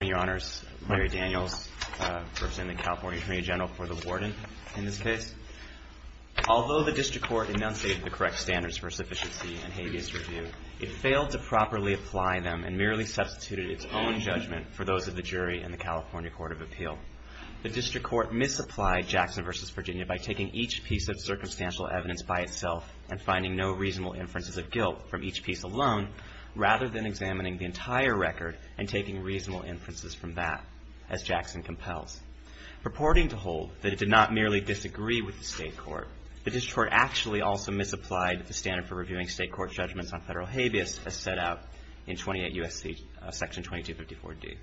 Your Honors, Larry Daniels, representing the California Attorney General for the Warden in this case. Although the District Court enunciated the correct standards for sufficiency and habeas review, it failed to properly apply them and merely substituted its own judgment for those of the jury in the California Court of Appeal. The District Court misapplied Jackson v. Virginia by taking each piece of circumstantial evidence by itself and finding no reasonable inferences of guilt from each piece alone, rather than examining the entire record and taking reasonable inferences from that, as Jackson compels. Purporting to hold that it did not merely disagree with the State Court, the District Court actually also misapplied the standard for reviewing State Court judgments on federal habeas, as set out in 28 U.S.C. § 2254D,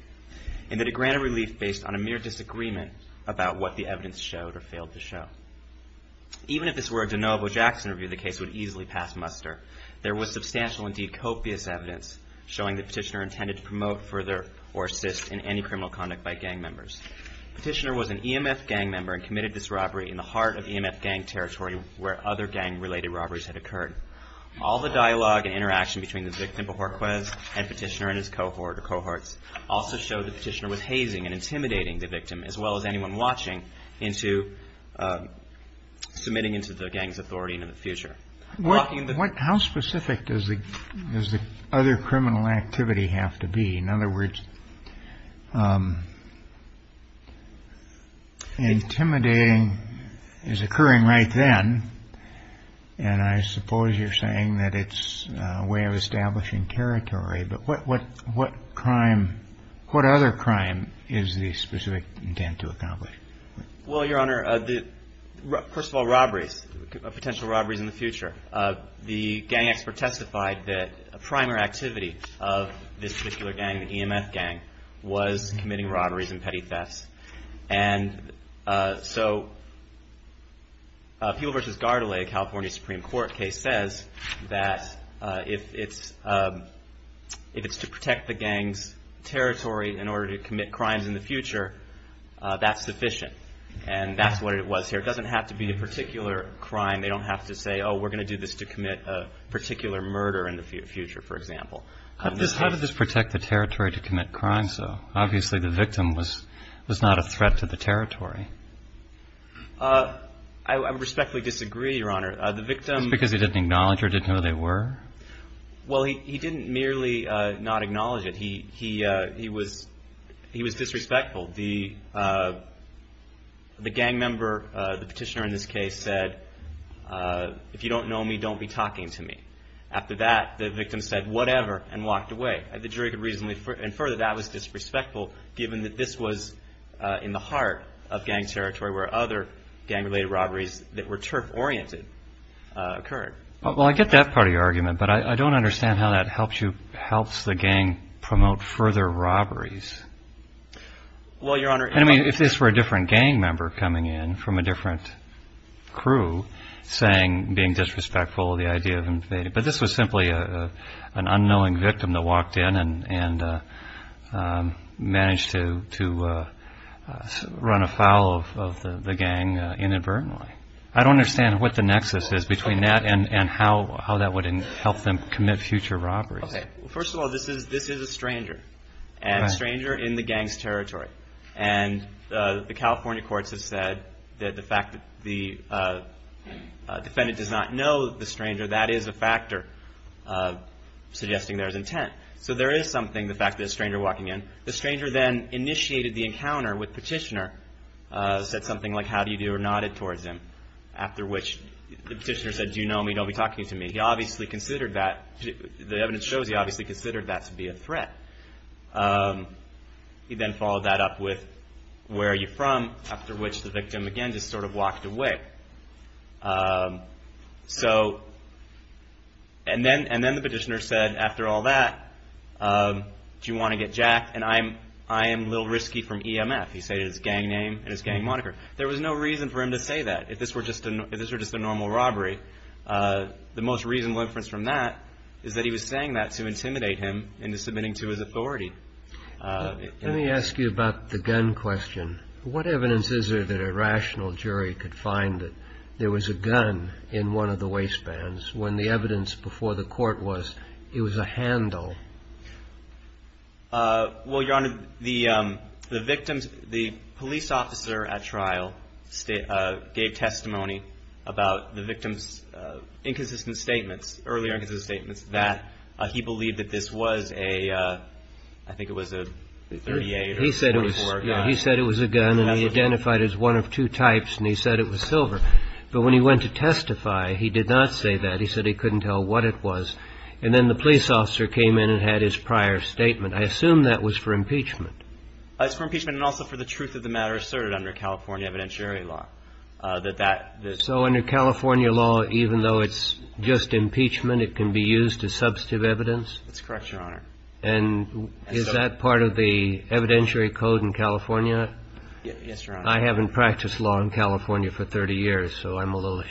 and that it granted relief based on a mere disagreement about what the evidence showed or failed to show. Even if this were a de novo Jackson review, the case would easily pass muster. There was substantial, indeed copious, evidence showing that Petitioner intended to promote further or assist in any criminal conduct by gang members. Petitioner was an EMF gang member and committed this robbery in the heart of EMF gang territory where other gang-related robberies had occurred. All the dialogue and interaction between the victim, Bohorquez, and Petitioner and his cohorts also showed that Petitioner was hazing and intimidating the victim, as well as anyone watching, into submitting into the gang's authority in the future. How specific does the other criminal activity have to be? In other words, intimidating is occurring right then, and I suppose you're saying that it's a way of establishing territory, but what other crime is the specific intent to accomplish? Well, Your Honor, first of all, robberies, potential robberies in the future. The gang expert testified that a primary activity of this particular gang, the EMF gang, was committing robberies and petty thefts. And so People v. Gardalay, a California Supreme Court case, says that if it's to protect the gang's territory in order to commit crimes in the future, that's sufficient, and that's what it was here. It doesn't have to be a particular crime. They don't have to say, oh, we're going to do this to commit a particular murder in the future, for example. How did this protect the territory to commit crimes, though? Obviously the victim was not a threat to the territory. I respectfully disagree, Your Honor. Just because he didn't acknowledge or didn't know they were? Well, he didn't merely not acknowledge it. He was disrespectful. The gang member, the petitioner in this case, said, if you don't know me, don't be talking to me. After that, the victim said whatever and walked away. The jury could reasonably infer that that was disrespectful given that this was in the heart of gang territory where other gang-related robberies that were turf-oriented occurred. Well, I get that part of your argument, but I don't understand how that helps the gang promote further robberies. Well, Your Honor, if this were a different gang member coming in from a different crew saying, being disrespectful of the idea of invading, but this was simply an unknowing victim that walked in and managed to run afoul of the gang inadvertently. I don't understand what the nexus is between that and how that would help them commit future robberies. First of all, this is a stranger, and a stranger in the gang's territory. And the California courts have said that the fact that the defendant does not know the stranger, that is a factor suggesting there is intent. So there is something, the fact that a stranger walking in. The stranger then initiated the encounter with Petitioner, said something like, how do you do, or nodded towards him, after which the Petitioner said, do you know me, don't be talking to me. He obviously considered that, the evidence shows he obviously considered that to be a threat. He then followed that up with, where are you from, after which the victim again just sort of walked away. And then the Petitioner said, after all that, do you want to get jacked, and I am Lil Risky from EMF. He stated his gang name and his gang moniker. There was no reason for him to say that, if this were just a normal robbery. The most reasonable inference from that is that he was saying that to intimidate him into submitting to his authority. Let me ask you about the gun question. What evidence is there that a rational jury could find that there was a gun in one of the waistbands, when the evidence before the court was it was a handle? Well, Your Honor, the victims, the police officer at trial gave testimony about the victim's inconsistent statements, earlier inconsistent statements, that he believed that this was a, I think it was a .38 or .44. He said it was a gun, and he identified it as one of two types, and he said it was silver. But when he went to testify, he did not say that. He said he couldn't tell what it was. And then the police officer came in and had his prior statement. I assume that was for impeachment. It was for impeachment and also for the truth of the matter asserted under California evidentiary law. So under California law, even though it's just impeachment, it can be used as substantive evidence? That's correct, Your Honor. And is that part of the evidentiary code in California? Yes, Your Honor. I haven't practiced law in California for 30 years, so I'm a little.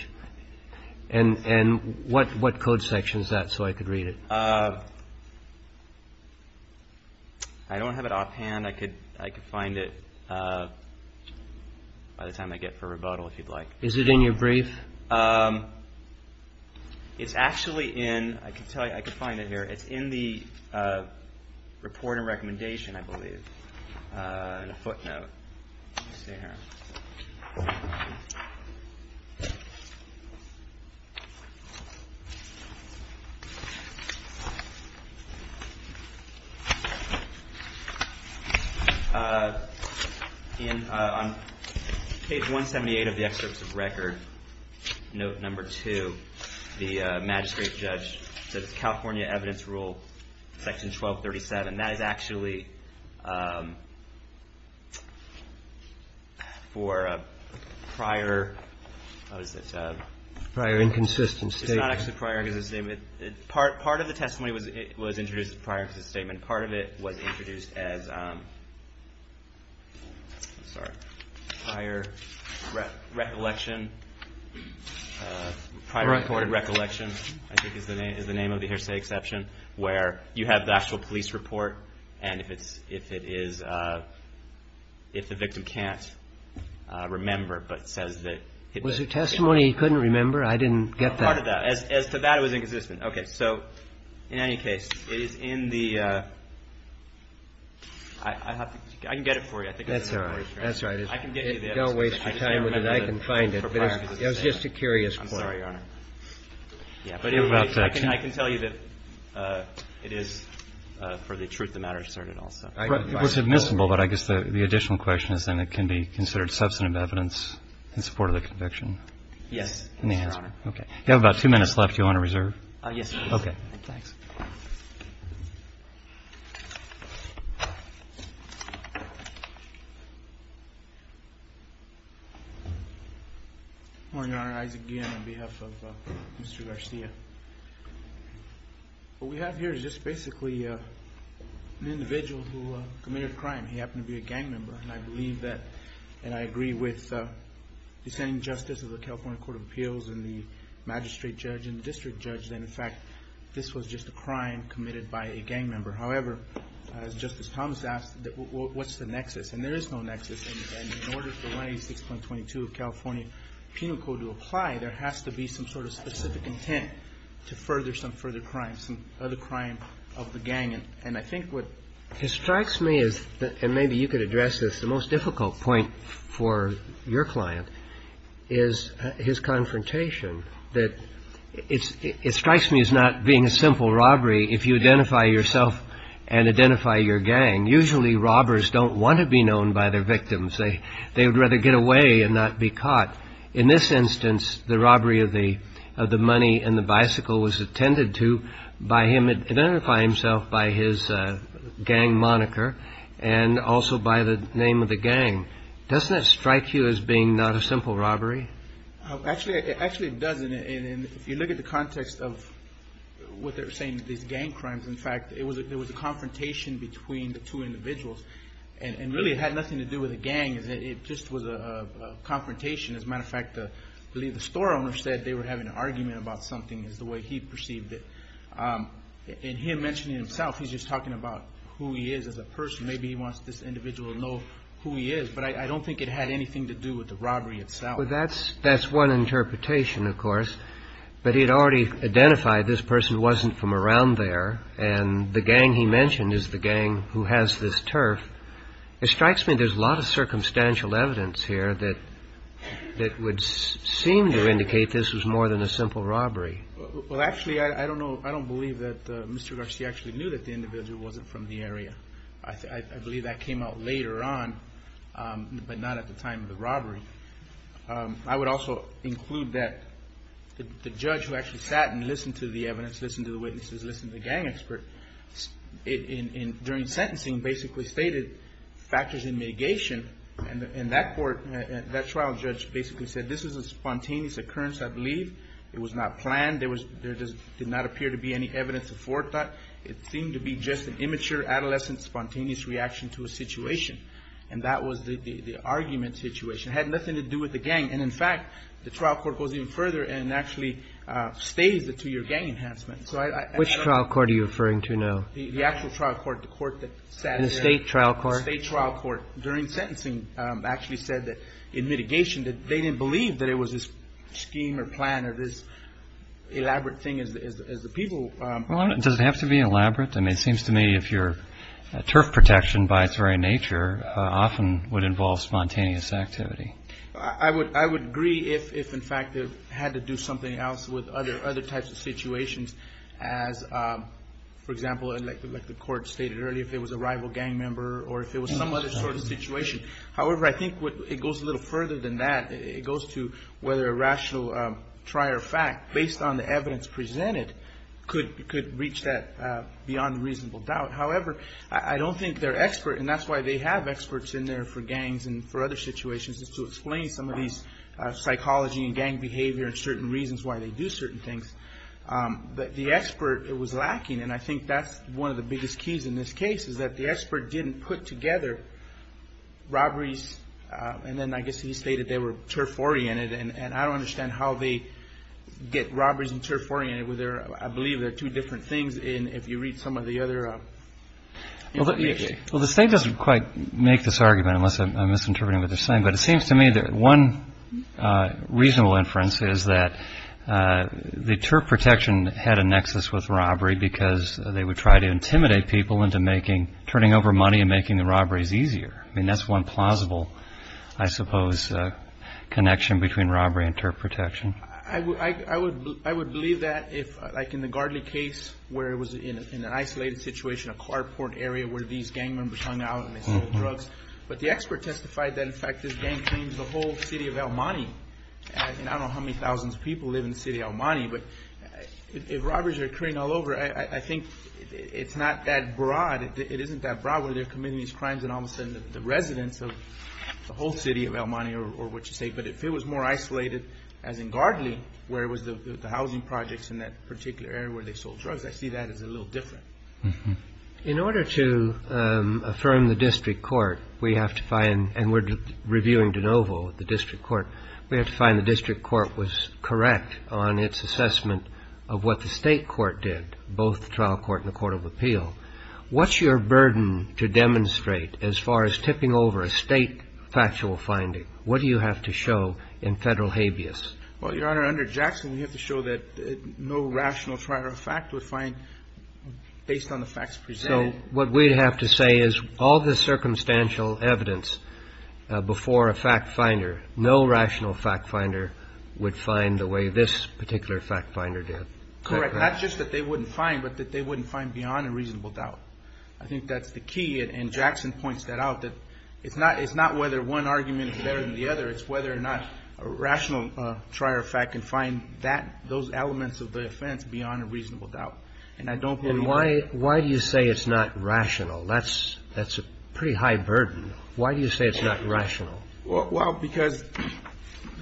And what code section is that, so I could read it? I don't have it offhand. I could find it by the time I get for rebuttal, if you'd like. Is it in your brief? It's actually in the report and recommendation, I believe, in a footnote. Let's see here. On page 178 of the excerpts of record, note number 2, the magistrate judge says California evidence rule section 1237. That is actually for a prior, what is it? Prior inconsistent statement. It's not actually prior inconsistent statement. Part of the testimony was introduced prior to the statement. Part of it was introduced as prior recollection. Prior recorded recollection, I think, is the name of the hearsay exception, where you have the actual police report, and if it's, if it is, if the victim can't remember but says that it was a testimony he couldn't remember, I didn't get that. Part of that. As to that, it was inconsistent. Okay. So in any case, it is in the, I have to, I can get it for you. That's all right. That's all right. Don't waste your time with it. It was just a curious point. I'm sorry, Your Honor. I can tell you that it is, for the truth of the matter, asserted also. It was admissible, but I guess the additional question is then it can be considered substantive evidence in support of the conviction? Yes, Your Honor. Okay. You have about two minutes left. Do you want to reserve? Yes, please. Okay. Thanks. Morning, Your Honor. Isaac Guillen on behalf of Mr. Garcia. What we have here is just basically an individual who committed a crime. He happened to be a gang member, and I believe that, and I agree with the descending justice of the California Court of Appeals and the magistrate judge and the district judge, that, in fact, this was just a crime committed by a gang member. However, as Justice Thomas asked, what's the nexus? And there is no nexus, and in order for 186.22 of California Penal Code to apply, there has to be some sort of specific intent to further some further crime, some other crime of the gang. And I think what strikes me is, and maybe you could address this, the most difficult point for your client, is his confrontation, that it strikes me as not being a simple robbery if you identify yourself and identify your gang. Usually robbers don't want to be known by their victims. They would rather get away and not be caught. In this instance, the robbery of the money and the bicycle was attended to by him identifying himself by his gang moniker and also by the name of the gang. Doesn't that strike you as being not a simple robbery? Actually, it doesn't. And if you look at the context of what they're saying, these gang crimes, in fact, there was a confrontation between the two individuals. And really it had nothing to do with a gang. It just was a confrontation. As a matter of fact, I believe the store owner said they were having an argument about something is the way he perceived it. And him mentioning himself, he's just talking about who he is as a person. Maybe he wants this individual to know who he is, but I don't think it had anything to do with the robbery itself. Well, that's that's one interpretation, of course. But he had already identified this person wasn't from around there. And the gang he mentioned is the gang who has this turf. It strikes me there's a lot of circumstantial evidence here that that would seem to indicate this was more than a simple robbery. Well, actually, I don't know. I don't believe that Mr. Garcia actually knew that the individual wasn't from the area. I believe that came out later on, but not at the time of the robbery. I would also include that the judge who actually sat and listened to the evidence, listened to the witnesses, listened to the gang expert, during sentencing basically stated factors in mitigation. And that trial judge basically said this is a spontaneous occurrence, I believe. It was not planned. There did not appear to be any evidence of forethought. It seemed to be just an immature, adolescent, spontaneous reaction to a situation. And that was the argument situation. It had nothing to do with the gang. And, in fact, the trial court goes even further and actually stays the two-year gang enhancement. Which trial court are you referring to now? The actual trial court, the court that sat there. The state trial court? The state trial court during sentencing actually said that in mitigation that they didn't believe that it was this scheme or plan or this elaborate thing as the people. Well, does it have to be elaborate? I mean, it seems to me if you're turf protection by its very nature often would involve spontaneous activity. I would agree if, in fact, it had to do something else with other types of situations as, for example, like the court stated earlier, if it was a rival gang member or if it was some other sort of situation. However, I think it goes a little further than that. It goes to whether a rational trier fact based on the evidence presented could reach that beyond reasonable doubt. However, I don't think their expert, and that's why they have experts in there for gangs and for other situations, is to explain some of these psychology and gang behavior and certain reasons why they do certain things. But the expert, it was lacking. And I think that's one of the biggest keys in this case is that the expert didn't put together robberies. And then I guess he stated they were turf oriented. And I don't understand how they get robberies and turf oriented. I believe they're two different things if you read some of the other. Well, the state doesn't quite make this argument unless I'm misinterpreting what they're saying. But it seems to me that one reasonable inference is that the turf protection had a nexus with robbery because they would try to intimidate people into turning over money and making the robberies easier. I mean, that's one plausible, I suppose, connection between robbery and turf protection. I would believe that if like in the Gardley case where it was in an isolated situation, a carport area where these gang members hung out and they sold drugs. But the expert testified that, in fact, this gang claims the whole city of El Monte. And I don't know how many thousands of people live in the city of El Monte. But if robberies are occurring all over, I think it's not that broad. It isn't that broad where they're committing these crimes and all of a sudden the residents of the whole city of El Monte or what you say. But if it was more isolated, as in Gardley, where it was the housing projects in that particular area where they sold drugs, I see that as a little different. In order to affirm the district court, we have to find, and we're reviewing de novo the district court, we have to find the district court was correct on its assessment of what the state court did, both the trial court and the court of appeal. What's your burden to demonstrate as far as tipping over a state factual finding? What do you have to show in federal habeas? Well, Your Honor, under Jackson, we have to show that no rational fact would find based on the facts presented. So what we'd have to say is all the circumstantial evidence before a fact finder, no rational fact finder would find the way this particular fact finder did. Correct. Not just that they wouldn't find, but that they wouldn't find beyond a reasonable doubt. I think that's the key, and Jackson points that out, that it's not whether one argument is better than the other, it's whether or not a rational trier of fact can find those elements of the offense beyond a reasonable doubt. And I don't believe that. And why do you say it's not rational? That's a pretty high burden. Why do you say it's not rational? Well, because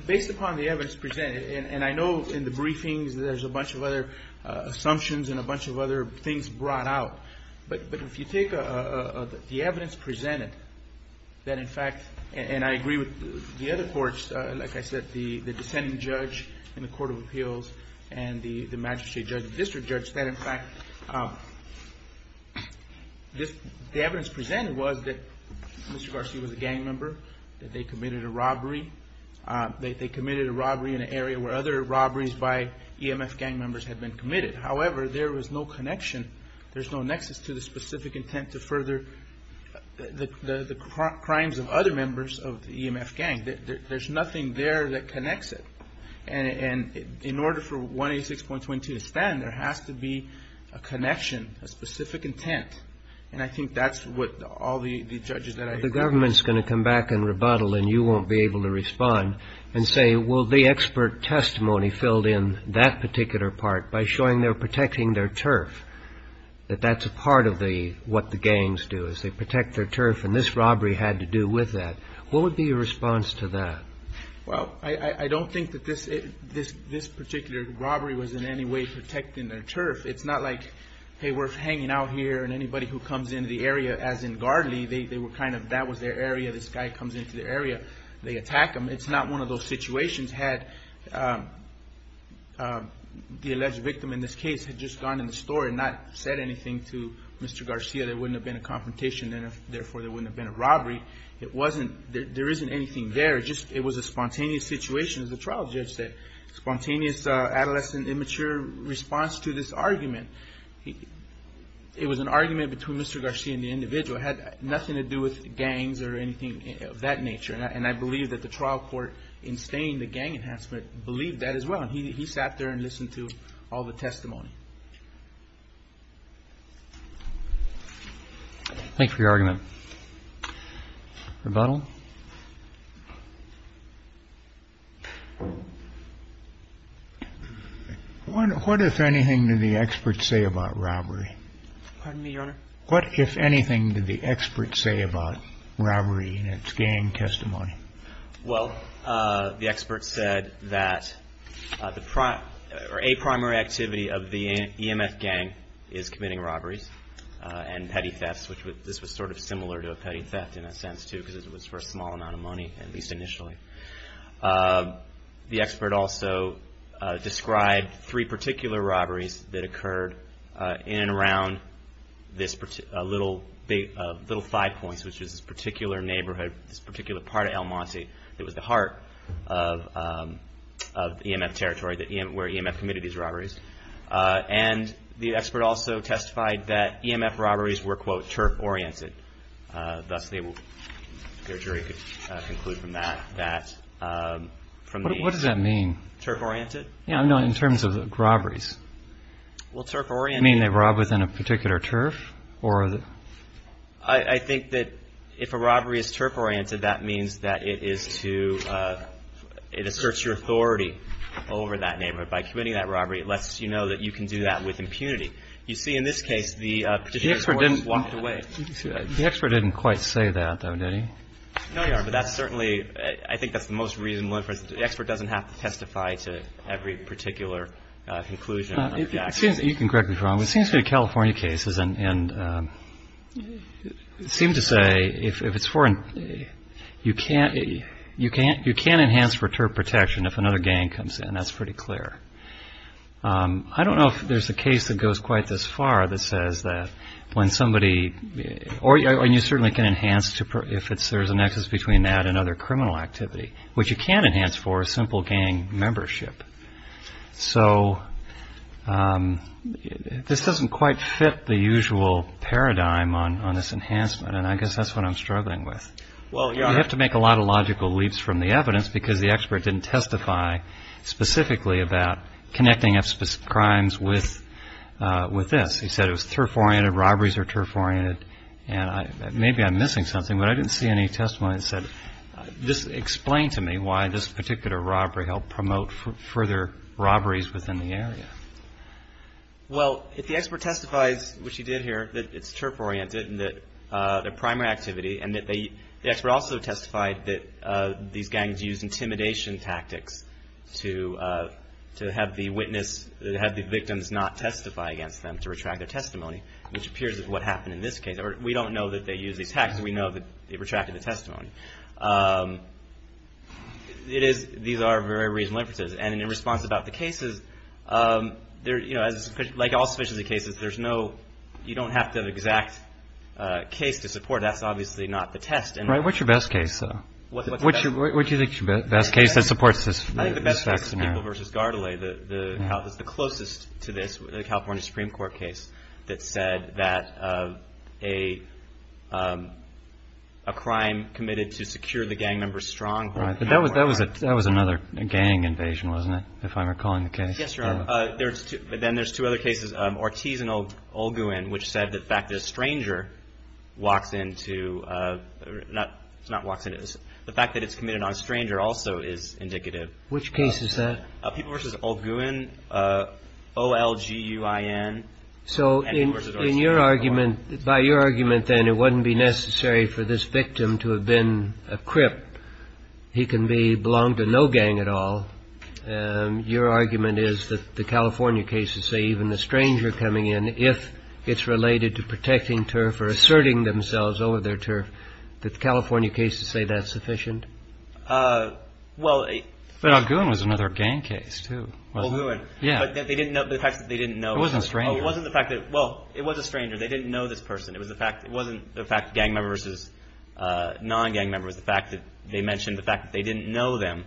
based upon the evidence presented, and I know in the briefings there's a bunch of other assumptions and a bunch of other things brought out, but if you take the evidence presented, that in fact, and I agree with the other courts, like I said, the dissenting judge in the court of appeals and the magistrate judge and district judge, that in fact the evidence presented was that Mr. Garcia was a gang member, that they committed a robbery. They committed a robbery in an area where other robberies by EMF gang members had been committed. However, there was no connection. There's no nexus to the specific intent to further the crimes of other members of the EMF gang. There's nothing there that connects it. And in order for 186.22 to stand, there has to be a connection, a specific intent. The government's going to come back and rebuttal, and you won't be able to respond and say, well, the expert testimony filled in that particular part by showing they're protecting their turf, that that's a part of what the gangs do, is they protect their turf, and this robbery had to do with that. What would be your response to that? Well, I don't think that this particular robbery was in any way protecting their turf. It's not like, hey, we're hanging out here, and anybody who comes into the area, as in Gardley, they were kind of, that was their area, this guy comes into their area, they attack him. It's not one of those situations had the alleged victim in this case had just gone in the store and not said anything to Mr. Garcia. There wouldn't have been a confrontation, and therefore there wouldn't have been a robbery. It wasn't, there isn't anything there. It was a spontaneous situation, as the trial judge said, spontaneous adolescent, immature response to this argument. It was an argument between Mr. Garcia and the individual. It had nothing to do with gangs or anything of that nature, and I believe that the trial court, in staying the gang enhancement, believed that as well, and he sat there and listened to all the testimony. Thank you for your argument. Rebuttal? What, if anything, did the experts say about robbery? Pardon me, Your Honor? What, if anything, did the experts say about robbery in its gang testimony? Well, the experts said that a primary activity of the EMF gang is committing robberies and petty thefts, which this was sort of similar to a petty theft in a sense, too, because it was for a gang. It was for a small amount of money, at least initially. The expert also described three particular robberies that occurred in and around this little five points, which was this particular neighborhood, this particular part of El Monte that was the heart of EMF territory, where EMF committed these robberies. And the expert also testified that EMF robberies were, quote, turf-oriented. Thus, their jury could conclude from that that from the turf-oriented. What does that mean? No, in terms of robberies. Well, turf-oriented. You mean they rob within a particular turf? I think that if a robbery is turf-oriented, that means that it is to, it asserts your authority over that neighborhood. By committing that robbery, it lets you know that you can do that with impunity. You see in this case, the particular robber walked away. The expert didn't quite say that, though, did he? No, Your Honor. But that's certainly, I think that's the most reasonable inference. The expert doesn't have to testify to every particular conclusion. Excuse me. You can correct me if I'm wrong. It seems to be California cases, and it seemed to say if it's foreign, you can't, you can't enhance turf protection if another gang comes in. That's pretty clear. I don't know if there's a case that goes quite this far that says that when somebody, and you certainly can enhance if there's a nexus between that and other criminal activity. What you can enhance for is simple gang membership. So this doesn't quite fit the usual paradigm on this enhancement, and I guess that's what I'm struggling with. Well, Your Honor. You have to make a lot of logical leaps from the evidence, because the expert didn't testify specifically about connecting up specific crimes with this. He said it was turf-oriented, robberies are turf-oriented, and maybe I'm missing something, but I didn't see any testimony that said, just explain to me why this particular robbery helped promote further robberies within the area. Well, if the expert testifies, which he did here, that it's turf-oriented, their primary activity, and the expert also testified that these gangs used intimidation tactics to have the victims not testify against them to retract their testimony, which appears is what happened in this case. We don't know that they used these tactics. We know that they retracted the testimony. These are very reasonable inferences, and in response about the cases, like all sufficiency cases, you don't have the exact case to support. That's obviously not the test. Right. What's your best case, though? What's the best case? What do you think is your best case that supports this scenario? I think the best case is People v. Gardalay. It's the closest to this, the California Supreme Court case, that said that a crime committed to secure the gang members' stronghold. That was another gang invasion, wasn't it, if I'm recalling the case? Yes, Your Honor. Then there's two other cases, Ortiz and Olguin, which said the fact that a stranger walks into, not walks into, the fact that it's committed on a stranger also is indicative. Which case is that? People v. Olguin, O-L-G-U-I-N. So in your argument, by your argument then, it wouldn't be necessary for this victim to have been a crip. He can belong to no gang at all. Your argument is that the California cases say even the stranger coming in, if it's related to protecting turf or asserting themselves over their turf, that the California cases say that's sufficient? Well, Olguin was another gang case, too, wasn't it? Olguin. Yeah. The fact that they didn't know. It wasn't a stranger. It wasn't the fact that, well, it was a stranger. They didn't know this person. It wasn't the fact gang members versus non-gang members. The fact that they mentioned the fact that they didn't know them.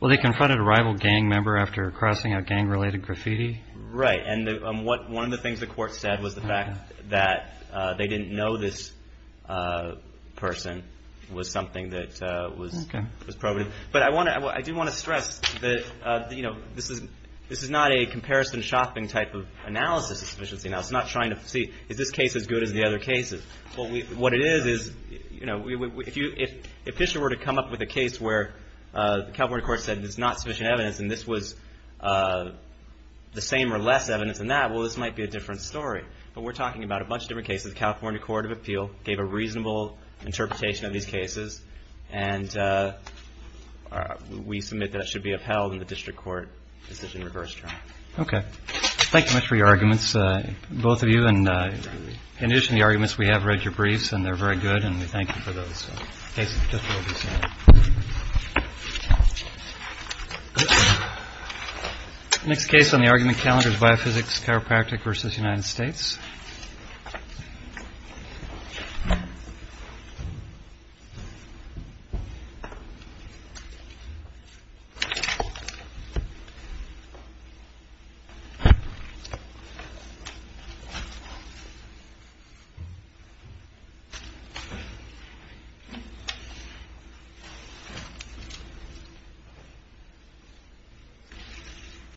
Well, they confronted a rival gang member after crossing out gang-related graffiti. Right, and one of the things the court said was the fact that they didn't know this person was something that was probative. But I do want to stress that this is not a comparison shopping type of analysis of sufficiency. Now, it's not trying to see is this case as good as the other cases. What it is is if Fisher were to come up with a case where the California court said there's not sufficient evidence and this was the same or less evidence than that, well, this might be a different story. But we're talking about a bunch of different cases. The California Court of Appeal gave a reasonable interpretation of these cases. And we submit that it should be upheld in the district court decision reverse trial. Okay. Thank you much for your arguments, both of you. And in addition to the arguments, we have read your briefs, and they're very good. And we thank you for those. Next case on the argument calendar is biophysics, chiropractic versus United States. Thank you.